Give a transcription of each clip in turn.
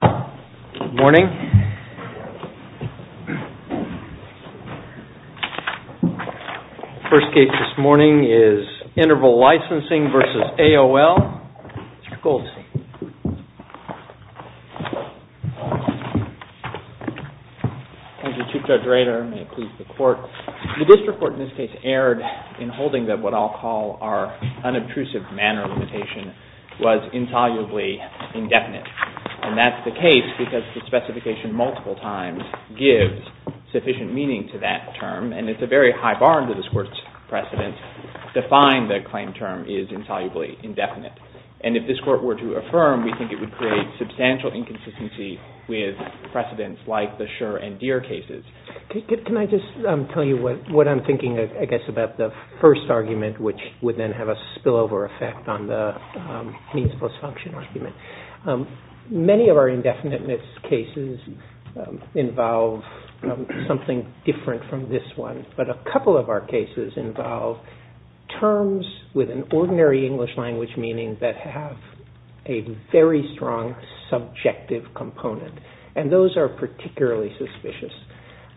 Good morning. The first case this morning is Interval Licensing v. AOL. Mr. Goldstein. Thank you, Chief Judge Rader. May it please the Court. The district court in this case erred in holding that what I'll call our unobtrusive manner limitation was insolubly indefinite. And that's the case because the specification multiple times gives sufficient meaning to that term, and it's a very high bar under this Court's precedent to find the claim term is insolubly indefinite. And if this Court were to affirm, we think it would create substantial inconsistency with precedents like the Schur and Deere cases. Can I just tell you what I'm thinking, I guess, about the first argument, which would then have a spillover effect on the means plus function argument. Many of our indefinite missed cases involve something different from this one, but a couple of our cases involve terms with an ordinary English language meaning that have a very strong subjective component, and those are particularly suspicious.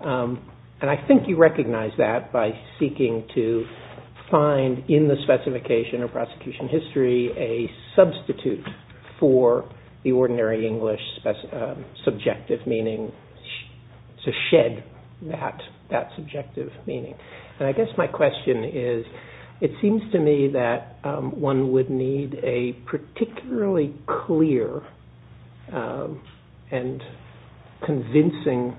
And I think you recognize that by seeking to find in the specification of prosecution history a substitute for the ordinary English subjective meaning, to shed that subjective meaning. And I guess my question is, it seems to me that one would need a particularly clear and convincing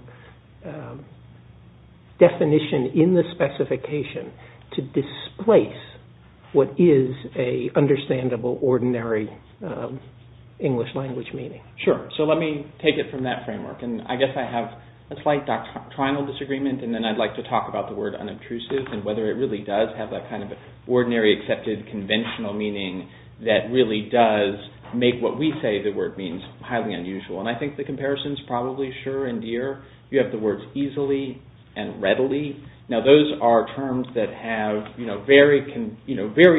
definition in the specification to displace what is an understandable ordinary English language meaning. Sure. So let me take it from that framework. And I guess I have a slight doctrinal disagreement, and then I'd like to talk about the word unobtrusive and whether it really does have that kind of ordinary accepted conventional meaning that really does make what we say the word means highly unusual. And I think the comparison is probably sure in Deere. You have the words easily and readily. Now, those are terms that have very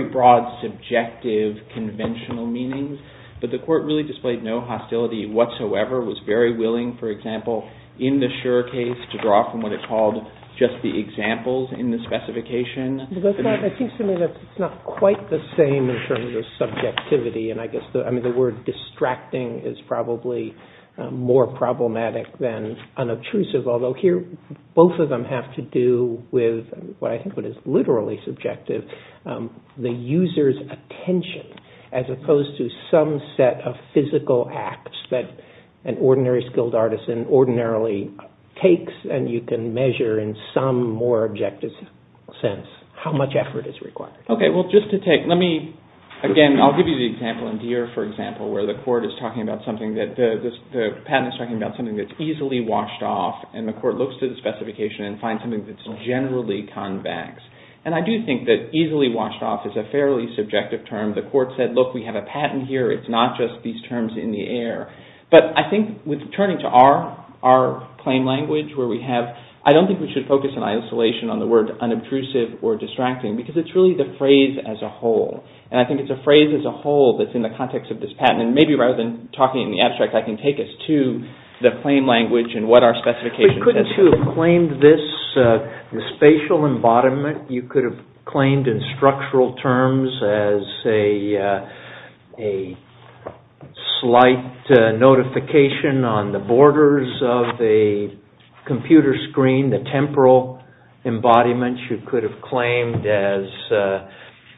broad subjective conventional meanings, but the court really displayed no hostility whatsoever, was very willing, for example, in the Schur case to draw from what it called just the examples in the specification. I think to me that's not quite the same in terms of subjectivity. And I guess the word distracting is probably more problematic than unobtrusive, although here both of them have to do with what I think is literally subjective, the user's attention as opposed to some set of physical acts that an ordinary skilled artisan ordinarily takes, and you can measure in some more objective sense how much effort is required. Again, I'll give you the example in Deere, for example, where the patent is talking about something that's easily washed off, and the court looks to the specification and finds something that's generally convex. And I do think that easily washed off is a fairly subjective term. The court said, look, we have a patent here. It's not just these terms in the air. But I think turning to our plain language where we have, I don't think we should focus on isolation, on the word unobtrusive or distracting, because it's really the phrase as a whole. And I think it's a phrase as a whole that's in the context of this patent. And maybe rather than talking in the abstract, I can take us to the plain language and what our specification says. We couldn't have claimed this spatial embodiment. You could have claimed in structural terms as a slight notification on the borders of a computer screen, the temporal embodiment. You could have claimed as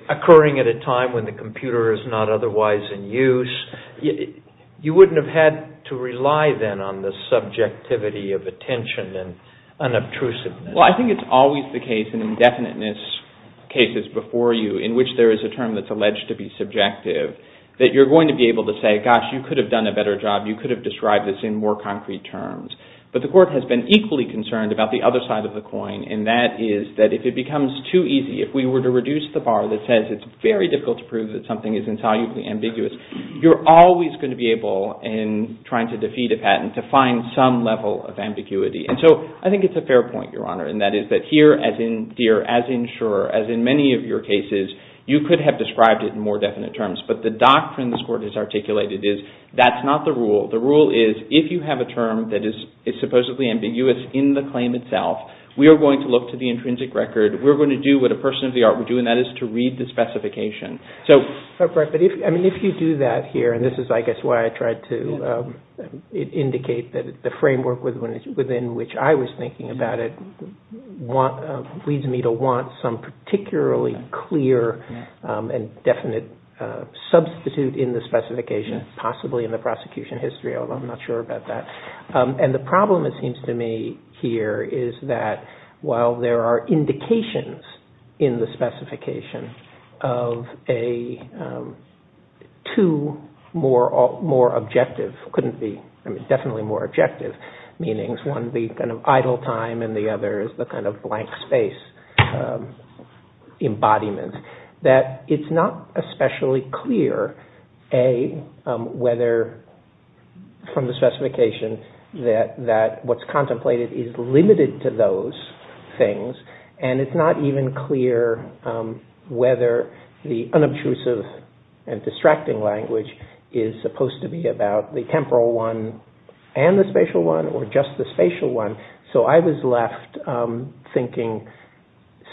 occurring at a time when the computer is not otherwise in use. You wouldn't have had to rely then on the subjectivity of attention and unobtrusiveness. Well, I think it's always the case in indefiniteness cases before you in which there is a term that's alleged to be subjective that you're going to be able to say, gosh, you could have done a better job. You could have described this in more concrete terms. But the court has been equally concerned about the other side of the coin, and that is that if it becomes too easy, if we were to reduce the bar that says it's very difficult to prove that something is insolubly ambiguous, you're always going to be able in trying to defeat a patent to find some level of ambiguity. And so I think it's a fair point, Your Honor, and that is that here, as in Deere, as in Shurer, as in many of your cases, you could have described it in more definite terms. But the doctrine this Court has articulated is that's not the rule. The rule is if you have a term that is supposedly ambiguous in the claim itself, we are going to look to the intrinsic record. We're going to do what a person of the art would do, and that is to read the specification. Right. But if you do that here, and this is, I guess, why I tried to indicate that the framework within which I was thinking about it leads me to want some particularly clear and definite substitute in the specification, possibly in the prosecution history, although I'm not sure about that. And the problem, it seems to me, here is that while there are two more objective, couldn't be, I mean, definitely more objective meanings, one being kind of idle time and the other is the kind of blank space embodiment, that it's not especially clear, A, whether from the specification that what's contemplated is limited to those things, and it's not even clear whether the unobtrusive and distracting language is supposed to be about the temporal one and the spatial one or just the spatial one. So I was left thinking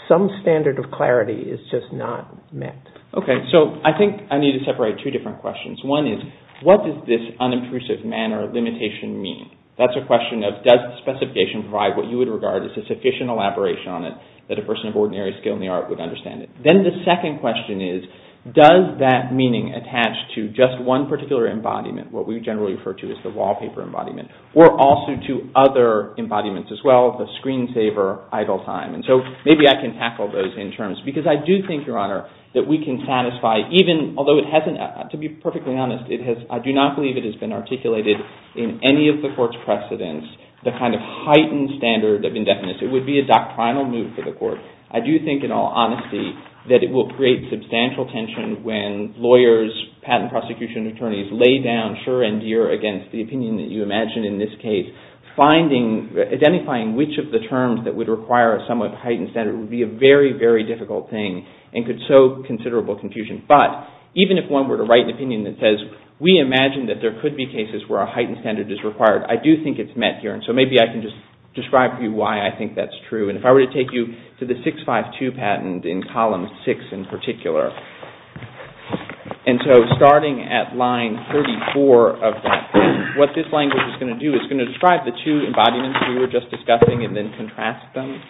some standard of clarity is just not met. Okay. So I think I need to separate two different questions. One is what does this unobtrusive manner limitation mean? That's a question of does the specification provide what you would regard as a sufficient elaboration on it that a person of ordinary skill in the art would understand it? Then the second question is does that meaning attach to just one particular embodiment, what we generally refer to as the wallpaper embodiment, or also to other embodiments as well, the screensaver idle time? And so maybe I can tackle those in terms because I do think, Your Honor, that we can satisfy even, although it hasn't, to be perfectly honest, it has, I do not believe it has been articulated in any of the court's precedents, the kind of heightened standard of indefiniteness. It would be a doctrinal move for the court. I do think, in all honesty, that it will create substantial tension when lawyers, patent prosecution attorneys lay down sure and dear against the opinion that you imagine in this case. Identifying which of the terms that would require a somewhat heightened standard would be a very, very difficult thing and could sow considerable confusion. But even if one were to write an opinion that says we imagine that there could be cases where a heightened standard is required, I do think it's met here. And so maybe I can just describe to you why I think that's true. And if I were to take you to the 652 patent in column six in particular, and so starting at line 34 of that, what this language is going to do is going to describe the two embodiments we were just discussing and then contrast them.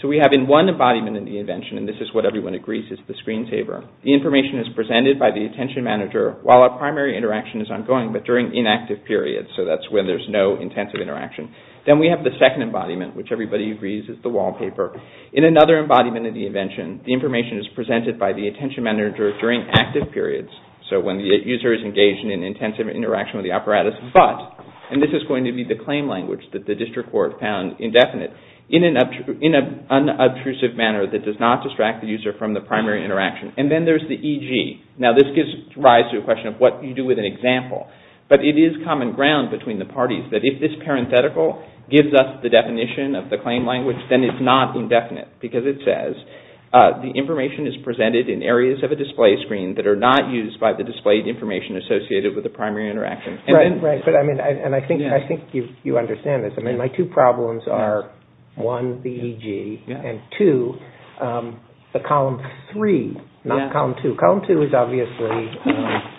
So we have in one embodiment in the invention, and this is what everyone agrees is the screensaver, the information is presented by the attention manager while a primary interaction is ongoing but during inactive periods, so that's when there's no intensive interaction. Then we have the second embodiment, which everybody agrees is the wallpaper. In another embodiment in the invention, the information is presented by the attention manager during active periods, so when the user is engaged in an intensive interaction with the apparatus, but, and this is going to be the claim language that the district court found indefinite, in an unobtrusive manner that does not distract the user from the primary interaction. And then there's the EG. Now this gives rise to a question of what you do with an example, but it is common ground between the parties that if this parenthetical gives us the definition of the claim language, then it's not indefinite because it says the information is presented in areas of a display screen that are not used by the displayed information associated with the primary interaction. And I think you understand this. I mean, my two problems are, one, the EG, and two, the column three, not column two. Column two is obviously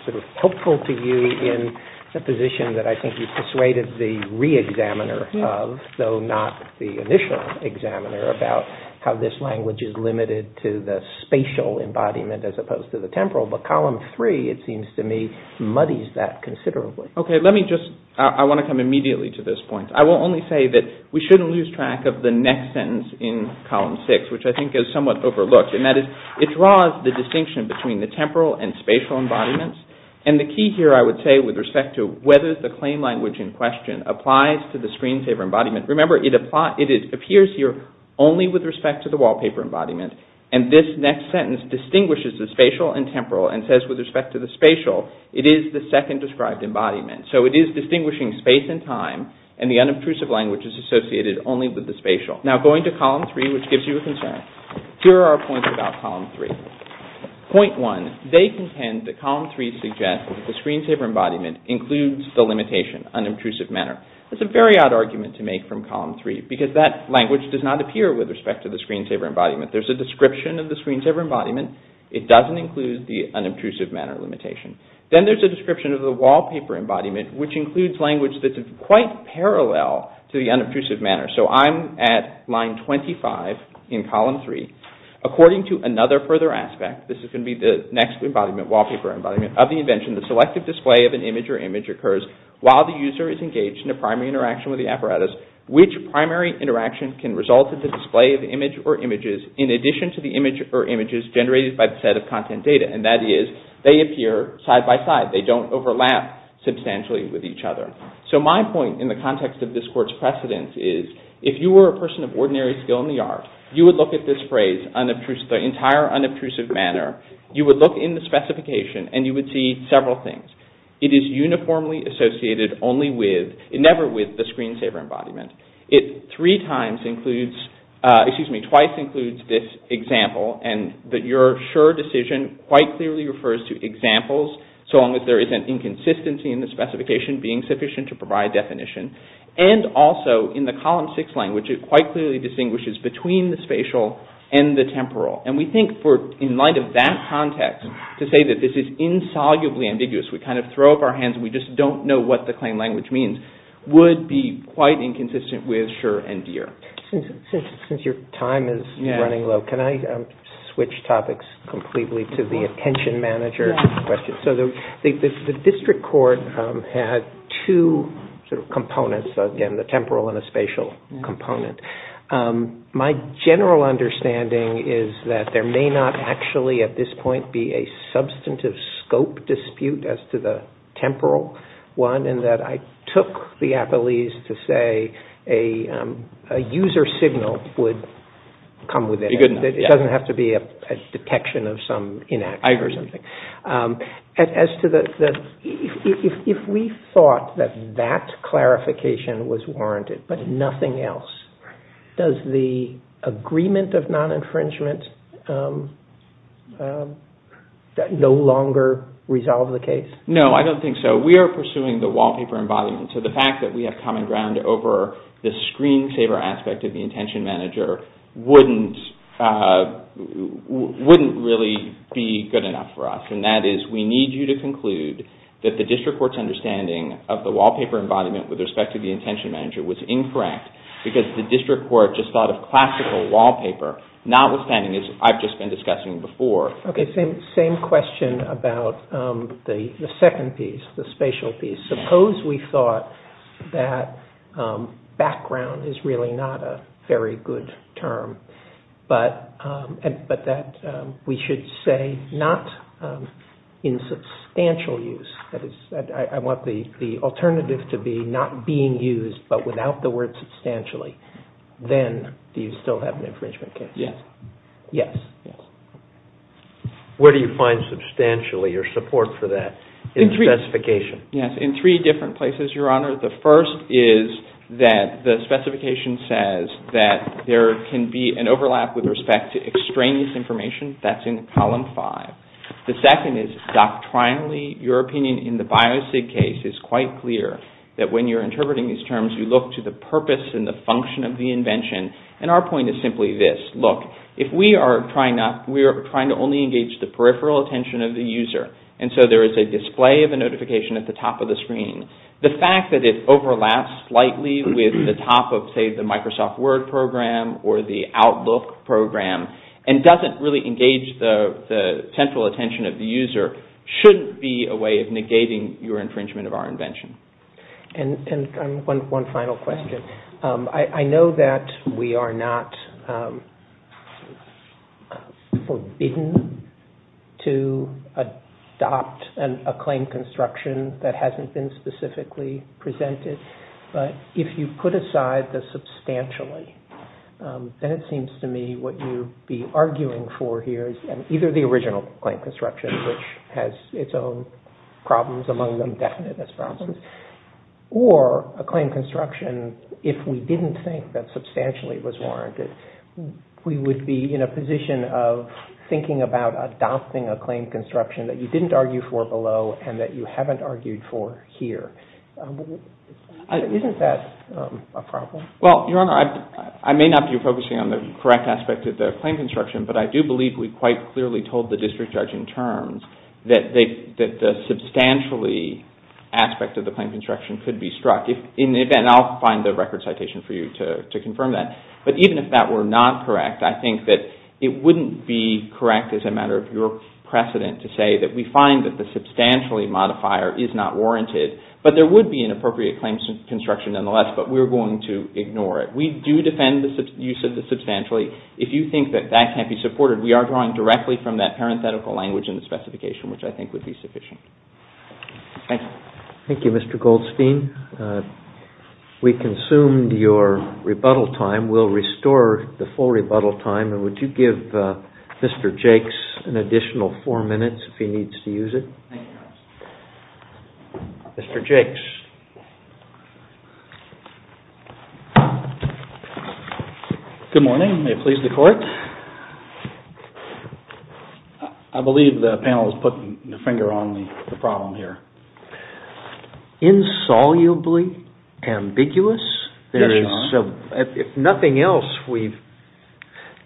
sort of hopeful to you in the position that I think you've persuaded the re-examiner of, though not the initial examiner, about how this language is limited to the spatial embodiment as opposed to the temporal, but column three, it seems to me, muddies that considerably. Okay, let me just, I want to come immediately to this point. I will only say that we shouldn't lose track of the next sentence in column six, which I think is somewhat overlooked, and that is it draws the distinction between the temporal and spatial embodiments, and the key here I would say with respect to whether the claim language in question applies to the screensaver embodiment, remember it appears here only with respect to the wallpaper embodiment, and this next sentence distinguishes the spatial and temporal, and says with respect to the spatial, it is the second described embodiment. So it is distinguishing space and time, and the unobtrusive language is associated only with the spatial. Now going to column three, which gives you a concern. Here are our points about column three. Point one, they contend that column three suggests that the screensaver embodiment includes the limitation, unobtrusive manner. That's a very odd argument to make from column three, because that language does not appear with respect to the screensaver embodiment. There's a description of the screensaver embodiment. It doesn't include the unobtrusive manner limitation. Then there's a description of the wallpaper embodiment, which includes language that's quite parallel to the unobtrusive manner. So I'm at line 25 in column three. According to another further aspect, this is going to be the next embodiment, wallpaper embodiment, of the invention, the selective display of an image or image occurs while the user is engaged in a primary interaction with the apparatus. Which primary interaction can result in the display of the image or images in addition to the image or images generated by the set of content data? And that is, they appear side by side. They don't overlap substantially with each other. So my point in the context of this court's precedence is, if you were a person of ordinary skill in the art, you would look at this phrase, the entire unobtrusive manner, you would look in the specification and you would see several things. It is uniformly associated only with, never with the screensaver embodiment. It three times includes, excuse me, twice includes this example and that your sure decision quite clearly refers to examples so long as there isn't inconsistency in the specification being sufficient to provide definition. And also, in the column six language, it quite clearly distinguishes between the spatial and the temporal. And we think in light of that context, to say that this is insolubly ambiguous, we kind of throw up our hands and we just don't know what the claim language means, would be quite inconsistent with sure and dear. Since your time is running low, can I switch topics completely to the attention manager question? So the district court had two components, again the temporal and the spatial component. My general understanding is that there may not actually at this point be a substantive scope dispute as to the temporal one and that I took the apologies to say a user signal would come with it. It doesn't have to be a detection of some inaction or something. As to the, if we thought that that clarification was warranted but nothing else, does the agreement of non-infringement no longer resolve the case? No, I don't think so. We are pursuing the wallpaper embodiment. So the fact that we have common ground over the screensaver aspect of the intention manager wouldn't really be good enough for us. And that is we need you to conclude that the district court's understanding of the wallpaper embodiment with respect to the intention manager was incorrect because the district court just thought of classical wallpaper notwithstanding as I've just been discussing before. Okay, same question about the second piece, the spatial piece. Suppose we thought that background is really not a very good term but that we should say not in substantial use. I want the alternative to be not being used but without the word substantially. Then do you still have an infringement case? Yes. Where do you find substantially or support for that in the specification? Yes, in three different places, Your Honor. The first is that the specification says that there can be an overlap with respect to extraneous information. That's in column five. The second is doctrinally, your opinion in the biosig case is quite clear that when you're interpreting these terms, you look to the purpose and the function of the invention. And our point is simply this. Look, if we are trying to only engage the peripheral attention of the user and so there is a display of a notification at the top of the screen, the fact that it overlaps slightly with the top of, say, the Microsoft Word program or the Outlook program and doesn't really engage the central attention of the user shouldn't be a way of negating your infringement of our invention. And one final question. I know that we are not forbidden to adopt a claim construction that hasn't been specifically presented, but if you put aside the substantially, then it seems to me what you'd be arguing for here is either the original claim construction, which has its own problems, among them definiteness problems, or a claim construction if we didn't think that substantially was warranted. We would be in a position of thinking about adopting a claim construction that you didn't argue for below and that you haven't argued for here. Isn't that a problem? Well, Your Honor, I may not be focusing on the correct aspect of the claim construction, but I do believe we quite clearly told the district judge in terms that the substantially aspect of the claim construction could be struck. And I'll find the record citation for you to confirm that. But even if that were not correct, I think that it wouldn't be correct as a matter of your precedent to say that we find that the substantially modifier is not warranted, but there would be an appropriate claim construction nonetheless, but we're going to ignore it. We do defend the use of the substantially. If you think that that can't be supported, we are drawing directly from that parenthetical language in the specification, which I think would be sufficient. Thank you. Thank you, Mr. Goldstein. We consumed your rebuttal time. We'll restore the full rebuttal time. And would you give Mr. Jakes an additional four minutes if he needs to use it? Thank you, counsel. Mr. Jakes. Good morning. May it please the court. I believe the panel is putting their finger on the problem here. Insolubly ambiguous? Yes, Your Honor. If nothing else, we've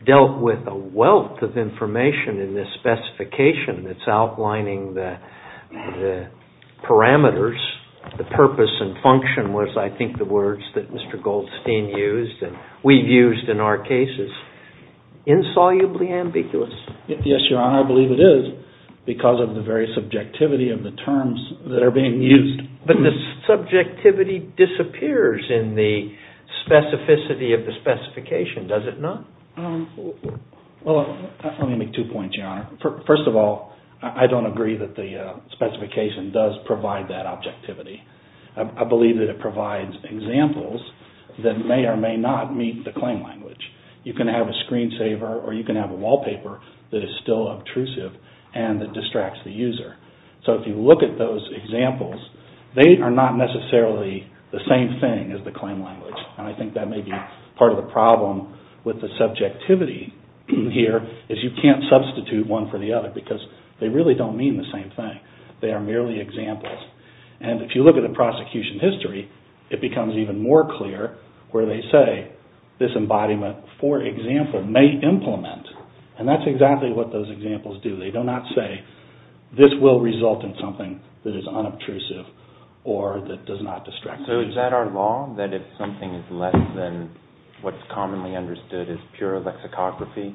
dealt with a wealth of information in this specification that's outlining the parameters. The purpose and function was, I think, the words that Mr. Goldstein used and we've used in our cases. Insolubly ambiguous? Yes, Your Honor, I believe it is because of the very subjectivity of the terms that are being used. But the subjectivity disappears in the specificity of the specification, does it not? Well, let me make two points, Your Honor. First of all, I don't agree that the specification does provide that objectivity. I believe that it provides examples that may or may not meet the claim language. You can have a screensaver or you can have a wallpaper that is still obtrusive and that distracts the user. So if you look at those examples, they are not necessarily the same thing as the claim language. And I think that may be part of the problem with the subjectivity here is you can't substitute one for the other because they really don't mean the same thing. They are merely examples. And if you look at the prosecution history, it becomes even more clear where they say this embodiment, for example, may implement. And that's exactly what those examples do. They do not say this will result in something that is unobtrusive or that does not distract the user. Is that our law, that if something is less than what's commonly understood as pure lexicography,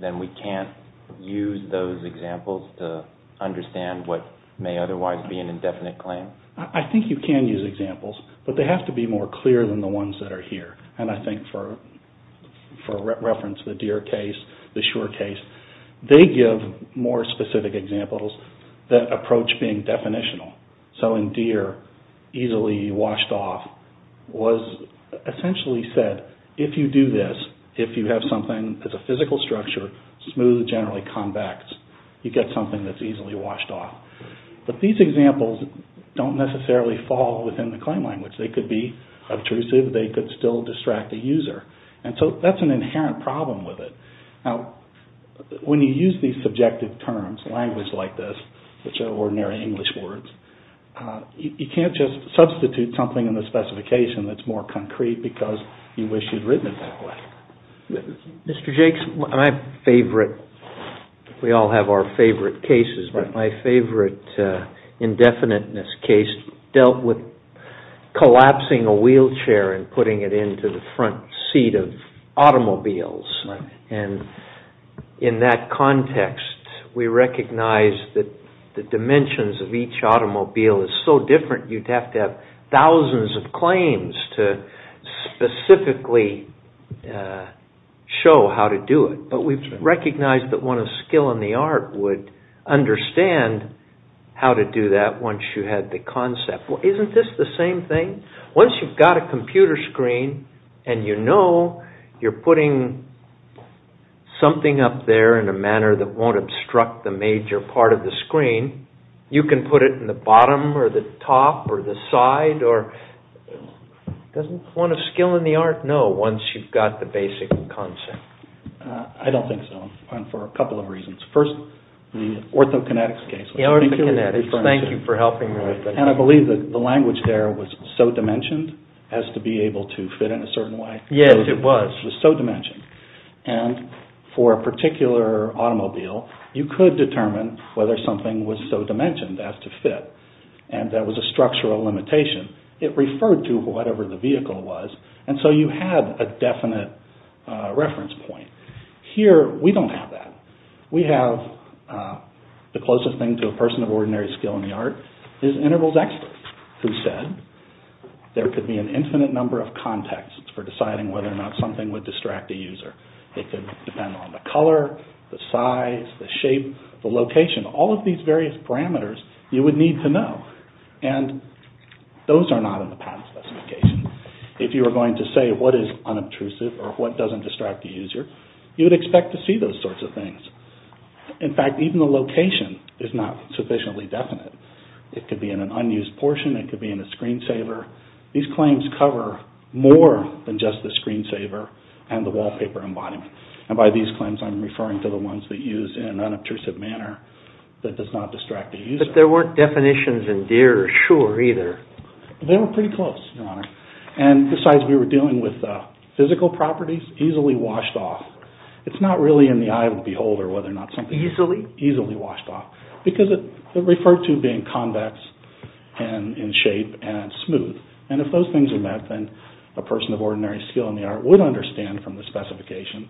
then we can't use those examples to understand what may otherwise be an indefinite claim? I think you can use examples, but they have to be more clear than the ones that are here. And I think for reference, the Deere case, the Shure case, they give more specific examples that approach being definitional. So in Deere, easily washed off was essentially said, if you do this, if you have something that's a physical structure, smooth, generally convex, you get something that's easily washed off. But these examples don't necessarily fall within the claim language. They could be obtrusive. They could still distract the user. And so that's an inherent problem with it. Now, when you use these subjective terms, language like this, which are ordinary English words, you can't just substitute something in the specification that's more concrete because you wish you'd written it that way. Mr. Jakes, my favorite, we all have our favorite cases, but my favorite indefiniteness case dealt with collapsing a wheelchair and putting it into the front seat of automobiles. And in that context, we recognize that the dimensions of each automobile is so different, you'd have to have thousands of claims to specifically show how to do it. But we've recognized that one of skill in the art would understand how to do that once you had the concept. Well, isn't this the same thing? Once you've got a computer screen and you know you're putting something up there in a manner that won't obstruct the major part of the screen, you can put it in the bottom or the top or the side or... Doesn't one of skill in the art know once you've got the basic concept? I don't think so. And for a couple of reasons. First, the orthokinetics case. The orthokinetics. Thank you for helping me with that. And I believe that the language there was so dimensioned as to be able to fit in a certain way. Yes, it was. It was so dimensioned. And for a particular automobile, you could determine whether something was so dimensioned as to fit and there was a structural limitation. It referred to whatever the vehicle was, and so you had a definite reference point. Here, we don't have that. We have the closest thing to a person of ordinary skill in the art is Intervals Excellence, who said, there could be an infinite number of contexts for deciding whether or not something would distract a user. It could depend on the color, the size, the shape, the location, all of these various parameters you would need to know. And those are not in the patent specification. If you were going to say what is unobtrusive or what doesn't distract the user, you would expect to see those sorts of things. In fact, even the location is not sufficiently definite. It could be in an unused portion. It could be in a screensaver. These claims cover more than just the screensaver and the wallpaper embodiment. And by these claims, I'm referring to the ones that use in an unobtrusive manner that does not distract the user. But there weren't definitions in Deere or Shure either. They were pretty close, Your Honor. And besides, we were dealing with physical properties easily washed off. It's not really in the eye of the beholder whether or not something is easily washed off because it referred to being convex and in shape and smooth. And if those things are met, then a person of ordinary skill in the art would understand from the specification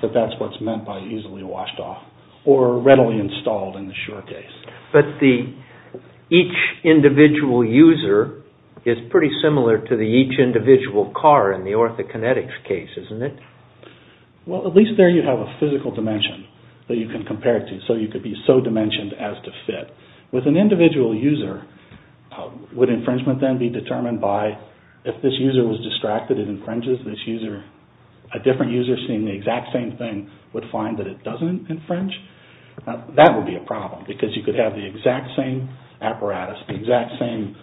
that that's what's meant by easily washed off or readily installed in the Shure case. But each individual user is pretty similar to each individual car in the orthokinetics case, isn't it? Well, at least there you have a physical dimension that you can compare it to. So you could be so dimensioned as to fit. With an individual user, would infringement then be determined by if this user was distracted and infringes this user, a different user seeing the exact same thing would find that it doesn't infringe? That would be a problem because you could have the exact same apparatus, the exact same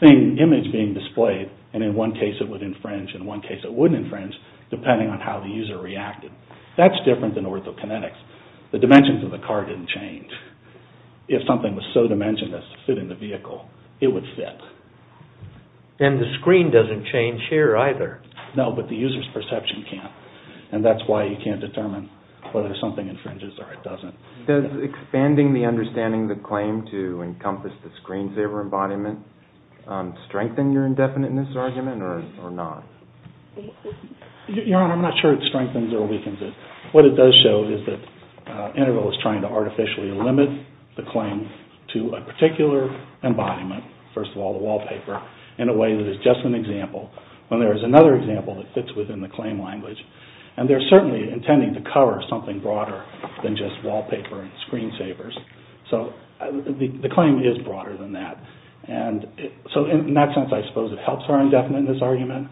thing, image being displayed and in one case it would infringe, in one case it wouldn't infringe depending on how the user reacted. That's different than orthokinetics. The dimensions of the car didn't change. If something was so dimensionless to fit in the vehicle, it would fit. And the screen doesn't change here either. No, but the user's perception can't. And that's why you can't determine whether something infringes or it doesn't. Does expanding the understanding of the claim to encompass the screensaver embodiment strengthen your indefiniteness argument or not? Your Honor, I'm not sure it strengthens or weakens it. What it does show is that Integral is trying to artificially limit the claim to a particular embodiment, first of all the wallpaper, in a way that is just an example when there is another example that fits within the claim language. And they're certainly intending to cover something broader than just wallpaper and screensavers. So the claim is broader than that. And so in that sense, I suppose it helps our indefiniteness argument.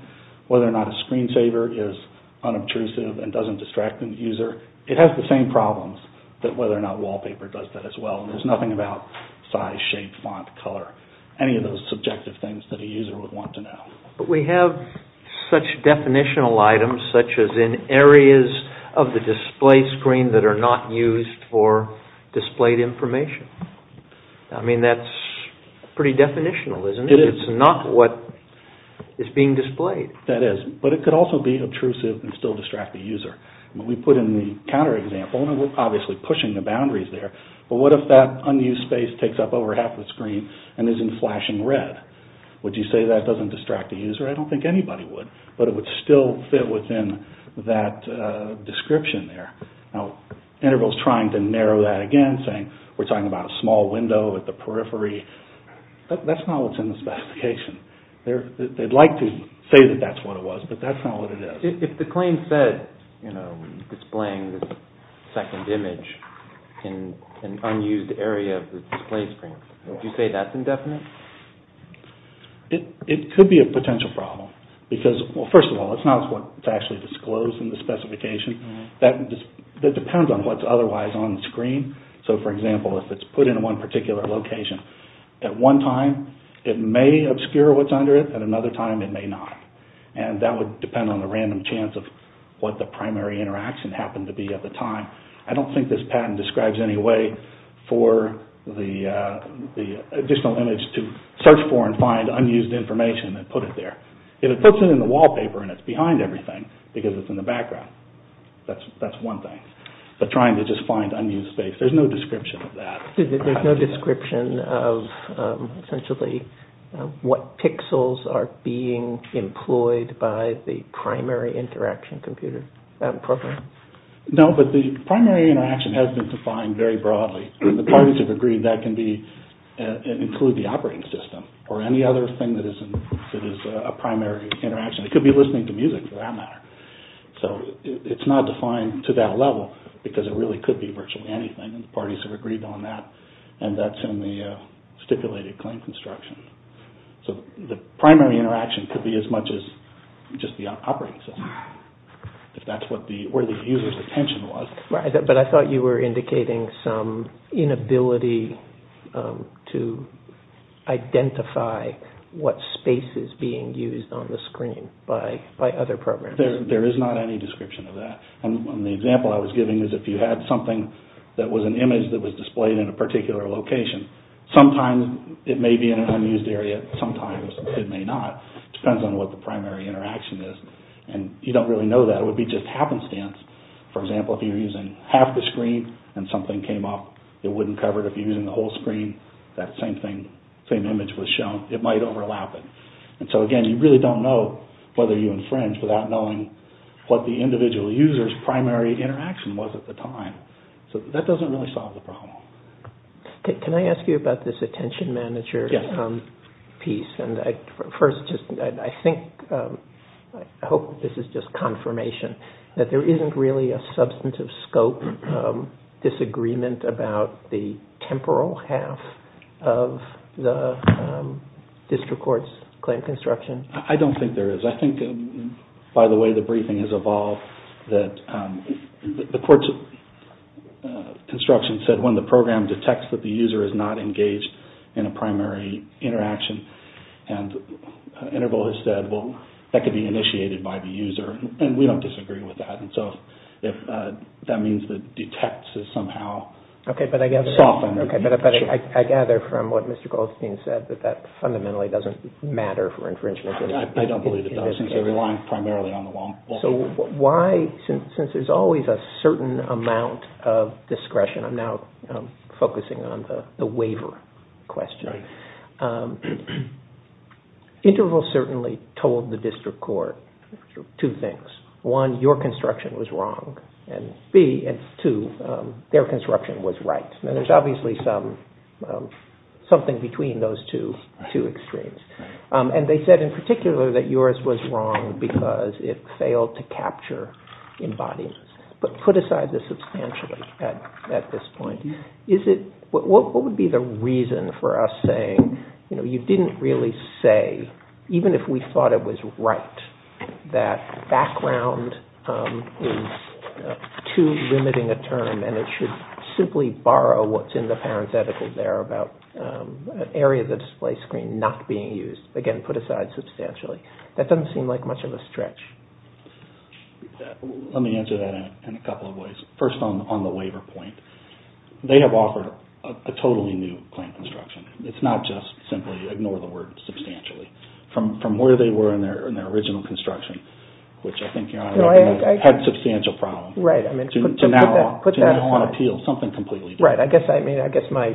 Whether or not a screensaver is unobtrusive and doesn't distract the user, it has the same problems that whether or not wallpaper does that as well. There's nothing about size, shape, font, color, any of those subjective things that a user would want to know. But we have such definitional items, such as in areas of the display screen that are not used for displayed information. I mean, that's pretty definitional, isn't it? It's not what is being displayed. That is, but it could also be obtrusive and still distract the user. When we put in the counter example, and we're obviously pushing the boundaries there, but what if that unused space takes up over half the screen and isn't flashing red? Would you say that doesn't distract the user? I don't think anybody would, but it would still fit within that description there. Now, Integral is trying to narrow that again, saying we're talking about a small window at the periphery. That's not what's in the specification. They'd like to say that that's what it was, but that's not what it is. If the claim said, you know, displaying the second image in an unused area of the display screen, would you say that's indefinite? It could be a potential problem, because, well, first of all, it's not what's actually disclosed in the specification. That depends on what's otherwise on the screen. So, for example, if it's put in one particular location, at one time it may obscure what's under it, at another time it may not. And that would depend on the random chance of what the primary interaction happened to be at the time. I don't think this patent describes any way for the additional image to search for and find unused information and put it there. If it puts it in the wallpaper and it's behind everything, because it's in the background, that's one thing. But trying to just find unused space, there's no description of that. There's no description of, essentially, what pixels are being employed by the primary interaction program? No, but the primary interaction has been defined very broadly. The parties have agreed that can include the operating system or any other thing that is a primary interaction. It could be listening to music, for that matter. So it's not defined to that level, because it really could be virtually anything, and the parties have agreed on that. And that's in the stipulated claim construction. So the primary interaction could be as much as just the operating system, if that's where the user's attention was. Right, but I thought you were indicating some inability to identify what space is being used on the screen by other programs. There is not any description of that. And the example I was giving is if you had something that was an image that was displayed in a particular location, sometimes it may be in an unused area, sometimes it may not. It depends on what the primary interaction is. And you don't really know that. It would be just happenstance. For example, if you're using half the screen and something came up, it wouldn't cover it. If you're using the whole screen, that same thing, same image was shown. It might overlap it. And so, again, you really don't know whether you infringe without knowing what the individual user's at the time. So that doesn't really solve the problem. Can I ask you about this attention manager piece? Yes. First, I think, I hope this is just confirmation, that there isn't really a substantive scope disagreement about the temporal half of the district court's claim construction? I don't think there is. I think, by the way the briefing has evolved, that the court's construction said, when the program detects that the user is not engaged in a primary interaction, and Interval has said, well, that could be initiated by the user. And we don't disagree with that. And so, that means that detects is somehow softened. Okay, but I gather from what Mr. Goldstein said, that that fundamentally doesn't matter for infringement. I don't believe it does, since they're relying primarily on the long term. So why, since there's always a certain amount of discretion, I'm now focusing on the waiver question. Interval certainly told the district court two things. One, your construction was wrong. And B, and two, their construction was right. And there's obviously something between those two extremes. And they said, in particular, that yours was wrong because it failed to capture embodiments. But put aside the substantially at this point. What would be the reason for us saying, you didn't really say, even if we thought it was right, that background is too limiting a term, and it should simply borrow what's in the parenthetical there about an area of the display screen not being used. Again, put aside substantially. That doesn't seem like much of a stretch. Let me answer that in a couple of ways. First on the waiver point, they have offered a totally new plan of construction. It's not just simply ignore the word substantially. From where they were in their original construction, which I think had substantial problems, to now on appeal something completely different. Right, I guess my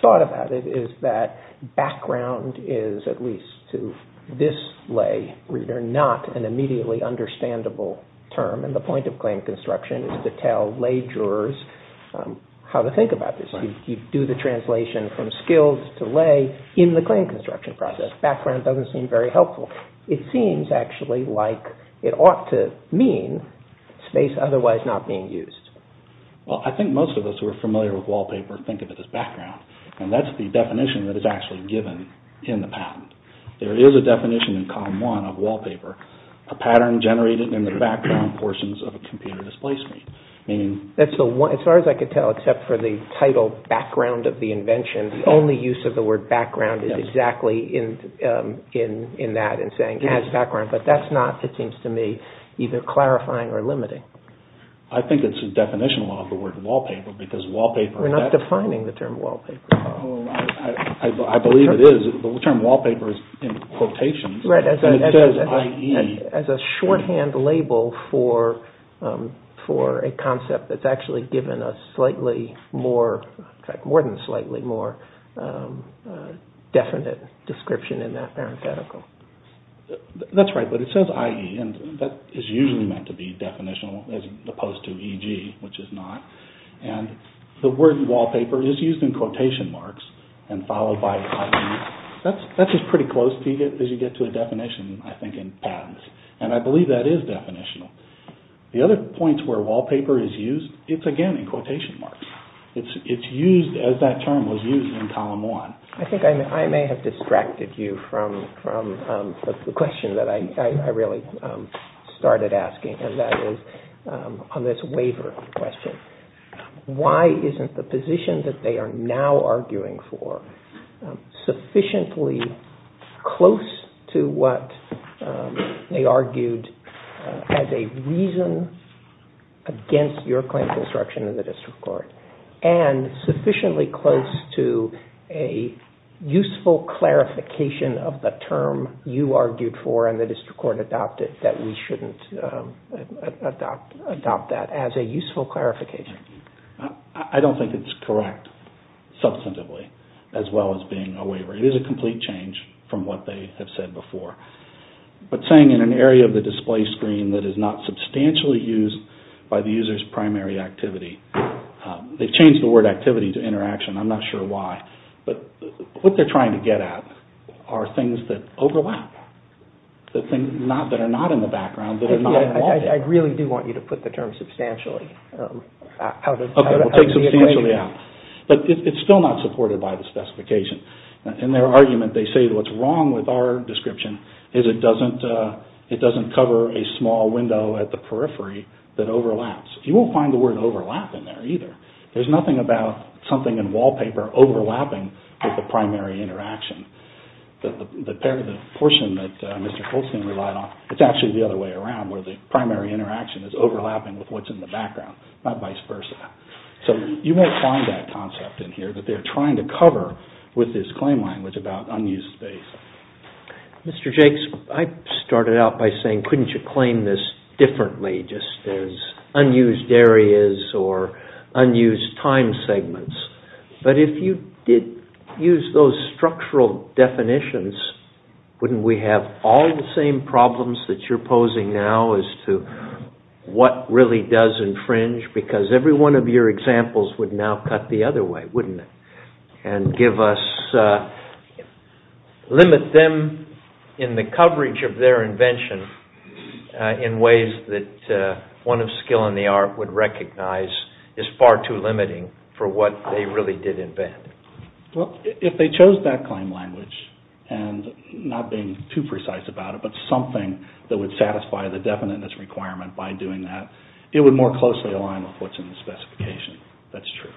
thought about it is that background is, at least to this lay reader, not an immediately understandable term. And the point of claim construction is to tell lay jurors how to think about this. You do the translation from skills to lay in the claim construction process. Background doesn't seem very helpful. It seems, actually, like it ought to mean space otherwise not being used. Well, I think most of us who are familiar with wallpaper think of it as background. And that's the definition that is actually given in the patent. There is a definition in column one of wallpaper. A pattern generated in the background portions of a computer displacement. As far as I can tell, except for the title background of the invention, the only use of the word background is exactly in that and saying as background. But that's not, it seems to me, either clarifying or limiting. I think it's a definition of the word wallpaper because wallpaper... We're not defining the term wallpaper. I believe it is. The term wallpaper is in quotations. And it says IE. As a shorthand label for a concept that's actually given a slightly more, in fact, more than slightly more definite description in that parenthetical. That's right, but it says IE. And that is usually meant to be definitional as opposed to EG, which is not. And the word wallpaper is used in quotation marks and followed by IE. That's just pretty close as you get to a definition, I think, in patents. And I believe that is definitional. The other points where wallpaper is used, it's again in quotation marks. It's used as that term was used in column one. I think I may have distracted you from the question that I really started asking and that is on this waiver question. Why isn't the position that they are now arguing for sufficiently close to what they argued as a reason against your claim for disruption in the district court? And sufficiently close to a useful clarification of the term you argued for and the district court adopted that we shouldn't adopt that as a useful clarification. I don't think it's correct substantively as well as being a waiver. It is a complete change from what they have said before. But saying in an area of the display screen that is not substantially used by the user's primary activity, they've changed the word activity to interaction. I'm not sure why. But what they're trying to get at are things that overlap, that are not in the background, that are not in the wallpaper. I really do want you to put the term substantially out of the equation. But it's still not supported by the specification. In their argument, they say what's wrong with our description is it doesn't cover a small window at the periphery that overlaps. You won't find the word overlap in there either. There's nothing about something in wallpaper overlapping with the primary interaction. The portion that Mr. Colston relied on, it's actually the other way around, where the primary interaction is overlapping with what's in the background, not vice versa. So you won't find that concept in here that they're trying to cover with this claim language about unused space. Mr. Jakes, I started out by saying, couldn't you claim this differently, just as unused areas or unused time segments? But if you did use those structural definitions, wouldn't we have all the same problems that you're posing now as to what really does infringe? Because every one of your examples would now cut the other way, wouldn't it? And limit them in the coverage of their invention in ways that one of skill in the art would recognize is far too limiting for what they really did invent. Well, if they chose that claim language, and not being too precise about it, but something that would satisfy the definiteness requirement by doing that, it would more closely align with what's in the specification. That's true.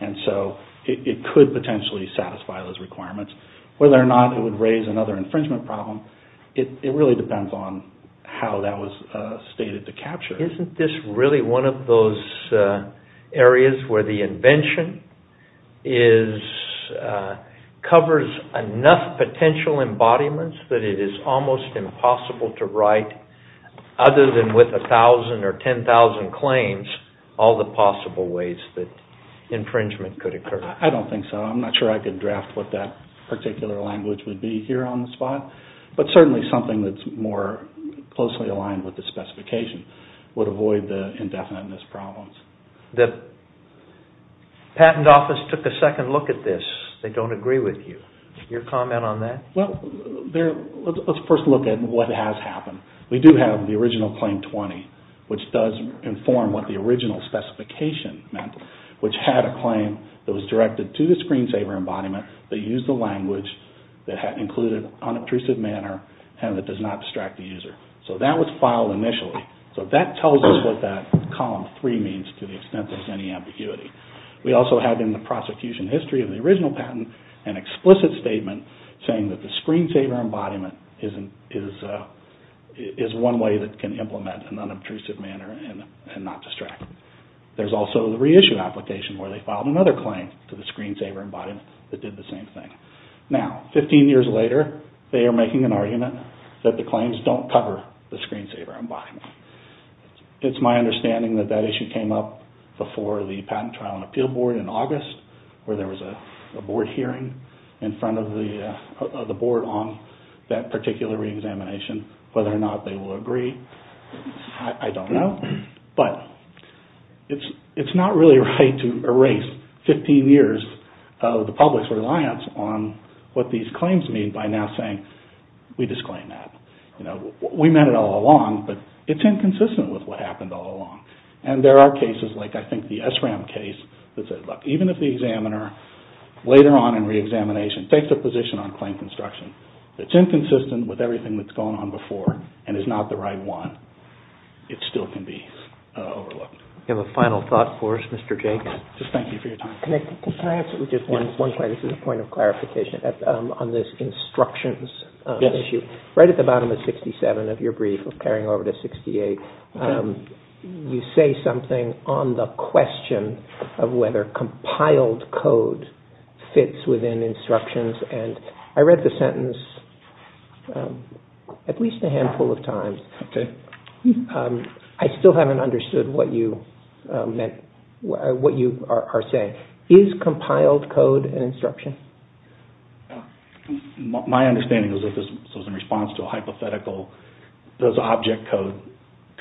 And so it could potentially satisfy those requirements. Whether or not it would raise another infringement problem, it really depends on how that was stated to capture. Isn't this really one of those areas where the invention covers enough potential embodiments that it is almost impossible to write, other than with 1,000 or 10,000 claims, all the possible ways that infringement could occur? I don't think so. I'm not sure I could draft what that particular language would be here on the spot. But certainly something that's more closely aligned with the specification. Would avoid the indefiniteness problems. The patent office took a second look at this. They don't agree with you. Your comment on that? Well, let's first look at what has happened. We do have the original Claim 20, which does inform what the original specification meant, which had a claim that was directed to the screensaver embodiment that used a language that included unobtrusive manner and that does not distract the user. So that was filed initially. So that tells us what that column 3 means to the extent there's any ambiguity. We also have in the prosecution history of the original patent an explicit statement saying that the screensaver embodiment is one way that can implement in an unobtrusive manner and not distract. There's also the reissue application where they filed another claim to the screensaver embodiment that did the same thing. Now, 15 years later, they are making an argument that the claims don't cover the screensaver embodiment. It's my understanding that that issue came up before the Patent Trial and Appeal Board in August where there was a board hearing in front of the board on that particular re-examination. Whether or not they will agree, I don't know. But it's not really right to erase 15 years of the public's reliance on what these claims mean by now saying we disclaim that. We meant it all along, but it's inconsistent with what happened all along. And there are cases like I think the SRAM case that said, look, even if the examiner later on in re-examination takes a position on claim construction that's inconsistent with everything that's gone on before and is not the right one, it still can be overlooked. We have a final thought for us, Mr. Jacobs. Just thank you for your time. Can I answer just one point? This is a point of clarification on this instructions issue. Right at the bottom of 67 of your brief, carrying over to 68, you say something on the question of whether compiled code fits within instructions. I still haven't understood what you are saying. Is compiled code an instruction? My understanding is that this was in response to a hypothetical, does object code,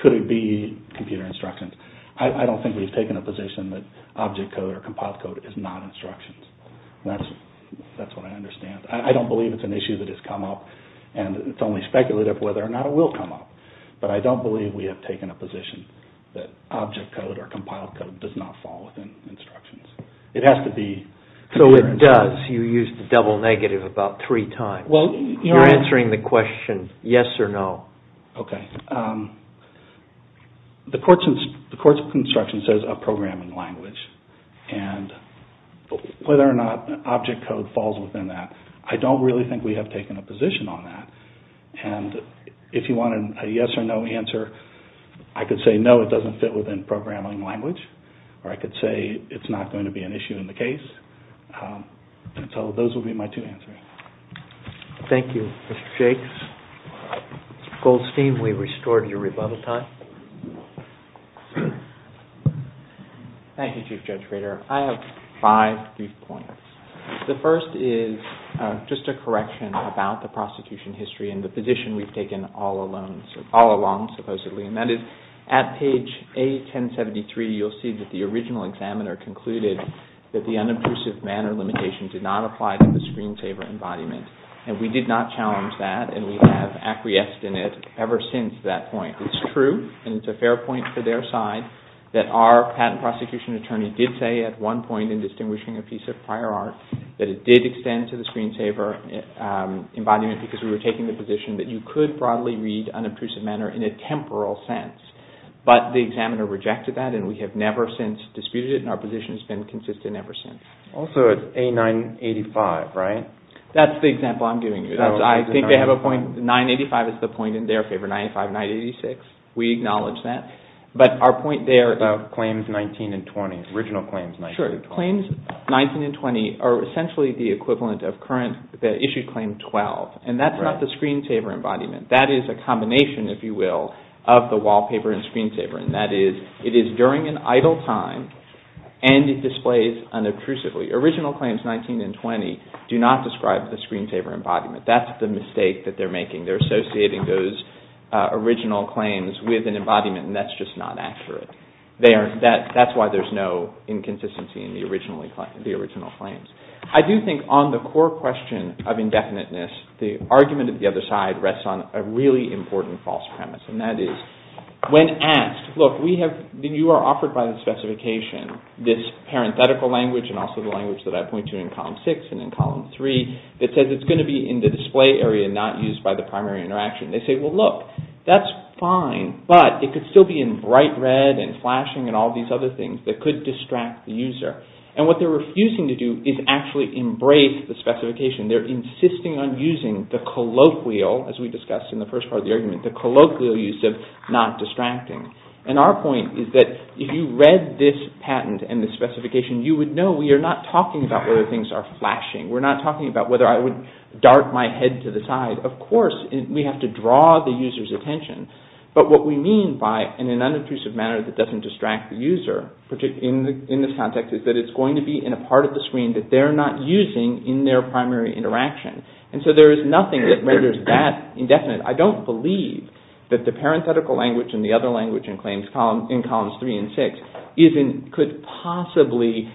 could it be computer instructions? I don't think we've taken a position that object code or compiled code is not instructions. That's what I understand. I don't believe it's an issue that has come up, and it's only speculative whether or not it will come up. But I don't believe we have taken a position that object code or compiled code does not fall within instructions. It has to be computer instructions. So it does. You used the double negative about three times. You're answering the question yes or no. Okay. The courts of construction says a programming language, and whether or not object code falls within that, I don't really think we have taken a position on that. And if you wanted a yes or no answer, I could say no, it doesn't fit within programming language, or I could say it's not going to be an issue in the case. So those would be my two answers. Thank you, Mr. Shakes. Mr. Goldstein, we restored your rebuttal time. Thank you, Chief Judge Rader. I have five brief points. The first is just a correction about the prosecution history and the position we've taken all along, supposedly, and that is at page A1073, you'll see that the original examiner concluded that the unobtrusive manner limitation did not apply to the screensaver embodiment, and we did not challenge that, and we have acquiesced in it ever since that point. It's true, and it's a fair point for their side, that our patent prosecution attorney did say at one point in distinguishing a piece of prior art, that it did extend to the screensaver embodiment because we were taking the position that you could broadly read unobtrusive manner in a temporal sense, but the examiner rejected that, and we have never since disputed it, and our position has been consistent ever since. Also, it's A985, right? That's the example I'm giving you. I think they have a point. 985 is the point in their favor, 95, 986. We acknowledge that, but our point there... About claims 19 and 20, original claims 19 and 20. Original claims 19 and 20 are essentially the equivalent of the issued claim 12, and that's not the screensaver embodiment. That is a combination, if you will, of the wallpaper and screensaver, and that is it is during an idle time, and it displays unobtrusively. Original claims 19 and 20 do not describe the screensaver embodiment. That's the mistake that they're making. They're associating those original claims with an embodiment, and that's just not accurate. That's why there's no inconsistency in the original claims. I do think on the core question of indefiniteness, the argument of the other side rests on a really important false premise, and that is when asked, look, you are offered by the specification this parenthetical language, and also the language that I point to in column 6 and in column 3, that says it's going to be in the display area and not used by the primary interaction. They say, well, look, that's fine, but it could still be in bright red and flashing and all these other things that could distract the user, and what they're refusing to do is actually embrace the specification. They're insisting on using the colloquial, as we discussed in the first part of the argument, the colloquial use of not distracting, and our point is that if you read this patent and this specification, you would know we are not talking about whether things are flashing. We're not talking about whether I would dart my head to the side. Of course, we have to draw the user's attention, but what we mean by in an unobtrusive manner that doesn't distract the user, in this context, is that it's going to be in a part of the screen that they're not using in their primary interaction, and so there is nothing that renders that indefinite. I don't believe that the parenthetical language and the other language in claims in columns 3 and 6 could possibly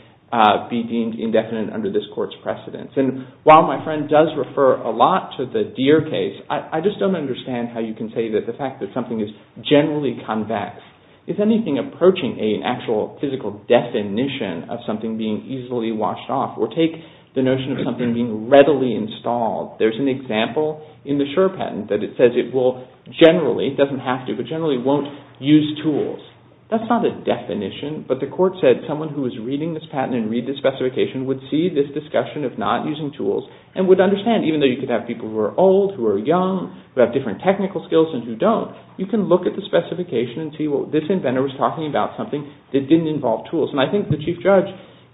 be deemed indefinite under this Court's precedence, and while my friend does refer a lot to the Deere case, I just don't understand how you can say that the fact that something is generally convex is anything approaching an actual physical definition of something being easily washed off, or take the notion of something being readily installed. There's an example in the Schur patent that it says it will generally, it doesn't have to, but generally won't use tools. That's not a definition, but the Court said someone who is reading this patent and reading this specification would see this discussion of not using tools and would understand, even though you could have people who are old, who are young, who have different technical skills and who don't, you can look at the specification and see this inventor was talking about something that didn't involve tools, and I think the Chief Judge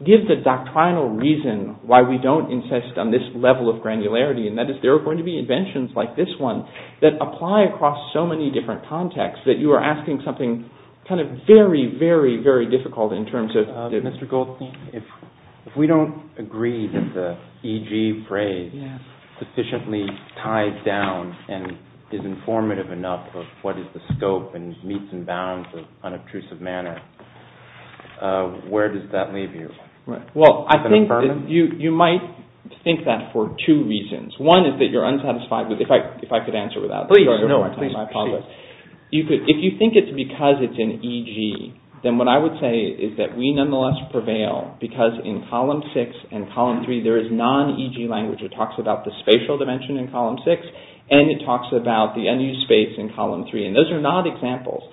gives a doctrinal reason why we don't insist on this level of granularity, and that is there are going to be inventions like this one that apply across so many different contexts that you are asking something kind of very, very, very difficult in terms of... Mr. Goldstein, if we don't agree that the EG phrase sufficiently ties down and is informative enough of what is the scope and meets and bounds of unobtrusive manner, where does that leave you? Well, I think you might think that for two reasons. One is that you're unsatisfied with... If I could answer without... Please, no. Please proceed. If you think it's because it's an EG, then what I would say is that we nonetheless prevail because in Column 6 and Column 3 there is non-EG language that talks about the spatial dimension in Column 6 and it talks about the unused space in Column 3 and those are not examples.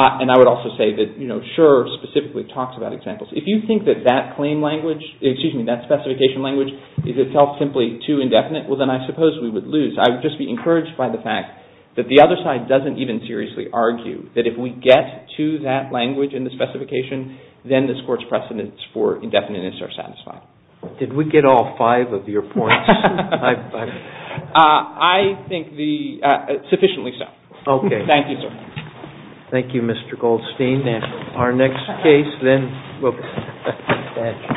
And I would also say that, you know, Schur specifically talks about examples. If you think that that claim language... Excuse me, that specification language is itself simply too indefinite, well, then I suppose we would lose. I would just be encouraged by the fact that the other side doesn't even seriously argue that if we get to that language in the specification, then this Court's precedence for indefiniteness are satisfied. Did we get all five of your points? I think the... sufficiently so. Okay. Thank you, sir. Thank you, Mr. Goldstein. Our next case, then we'll... Thank you.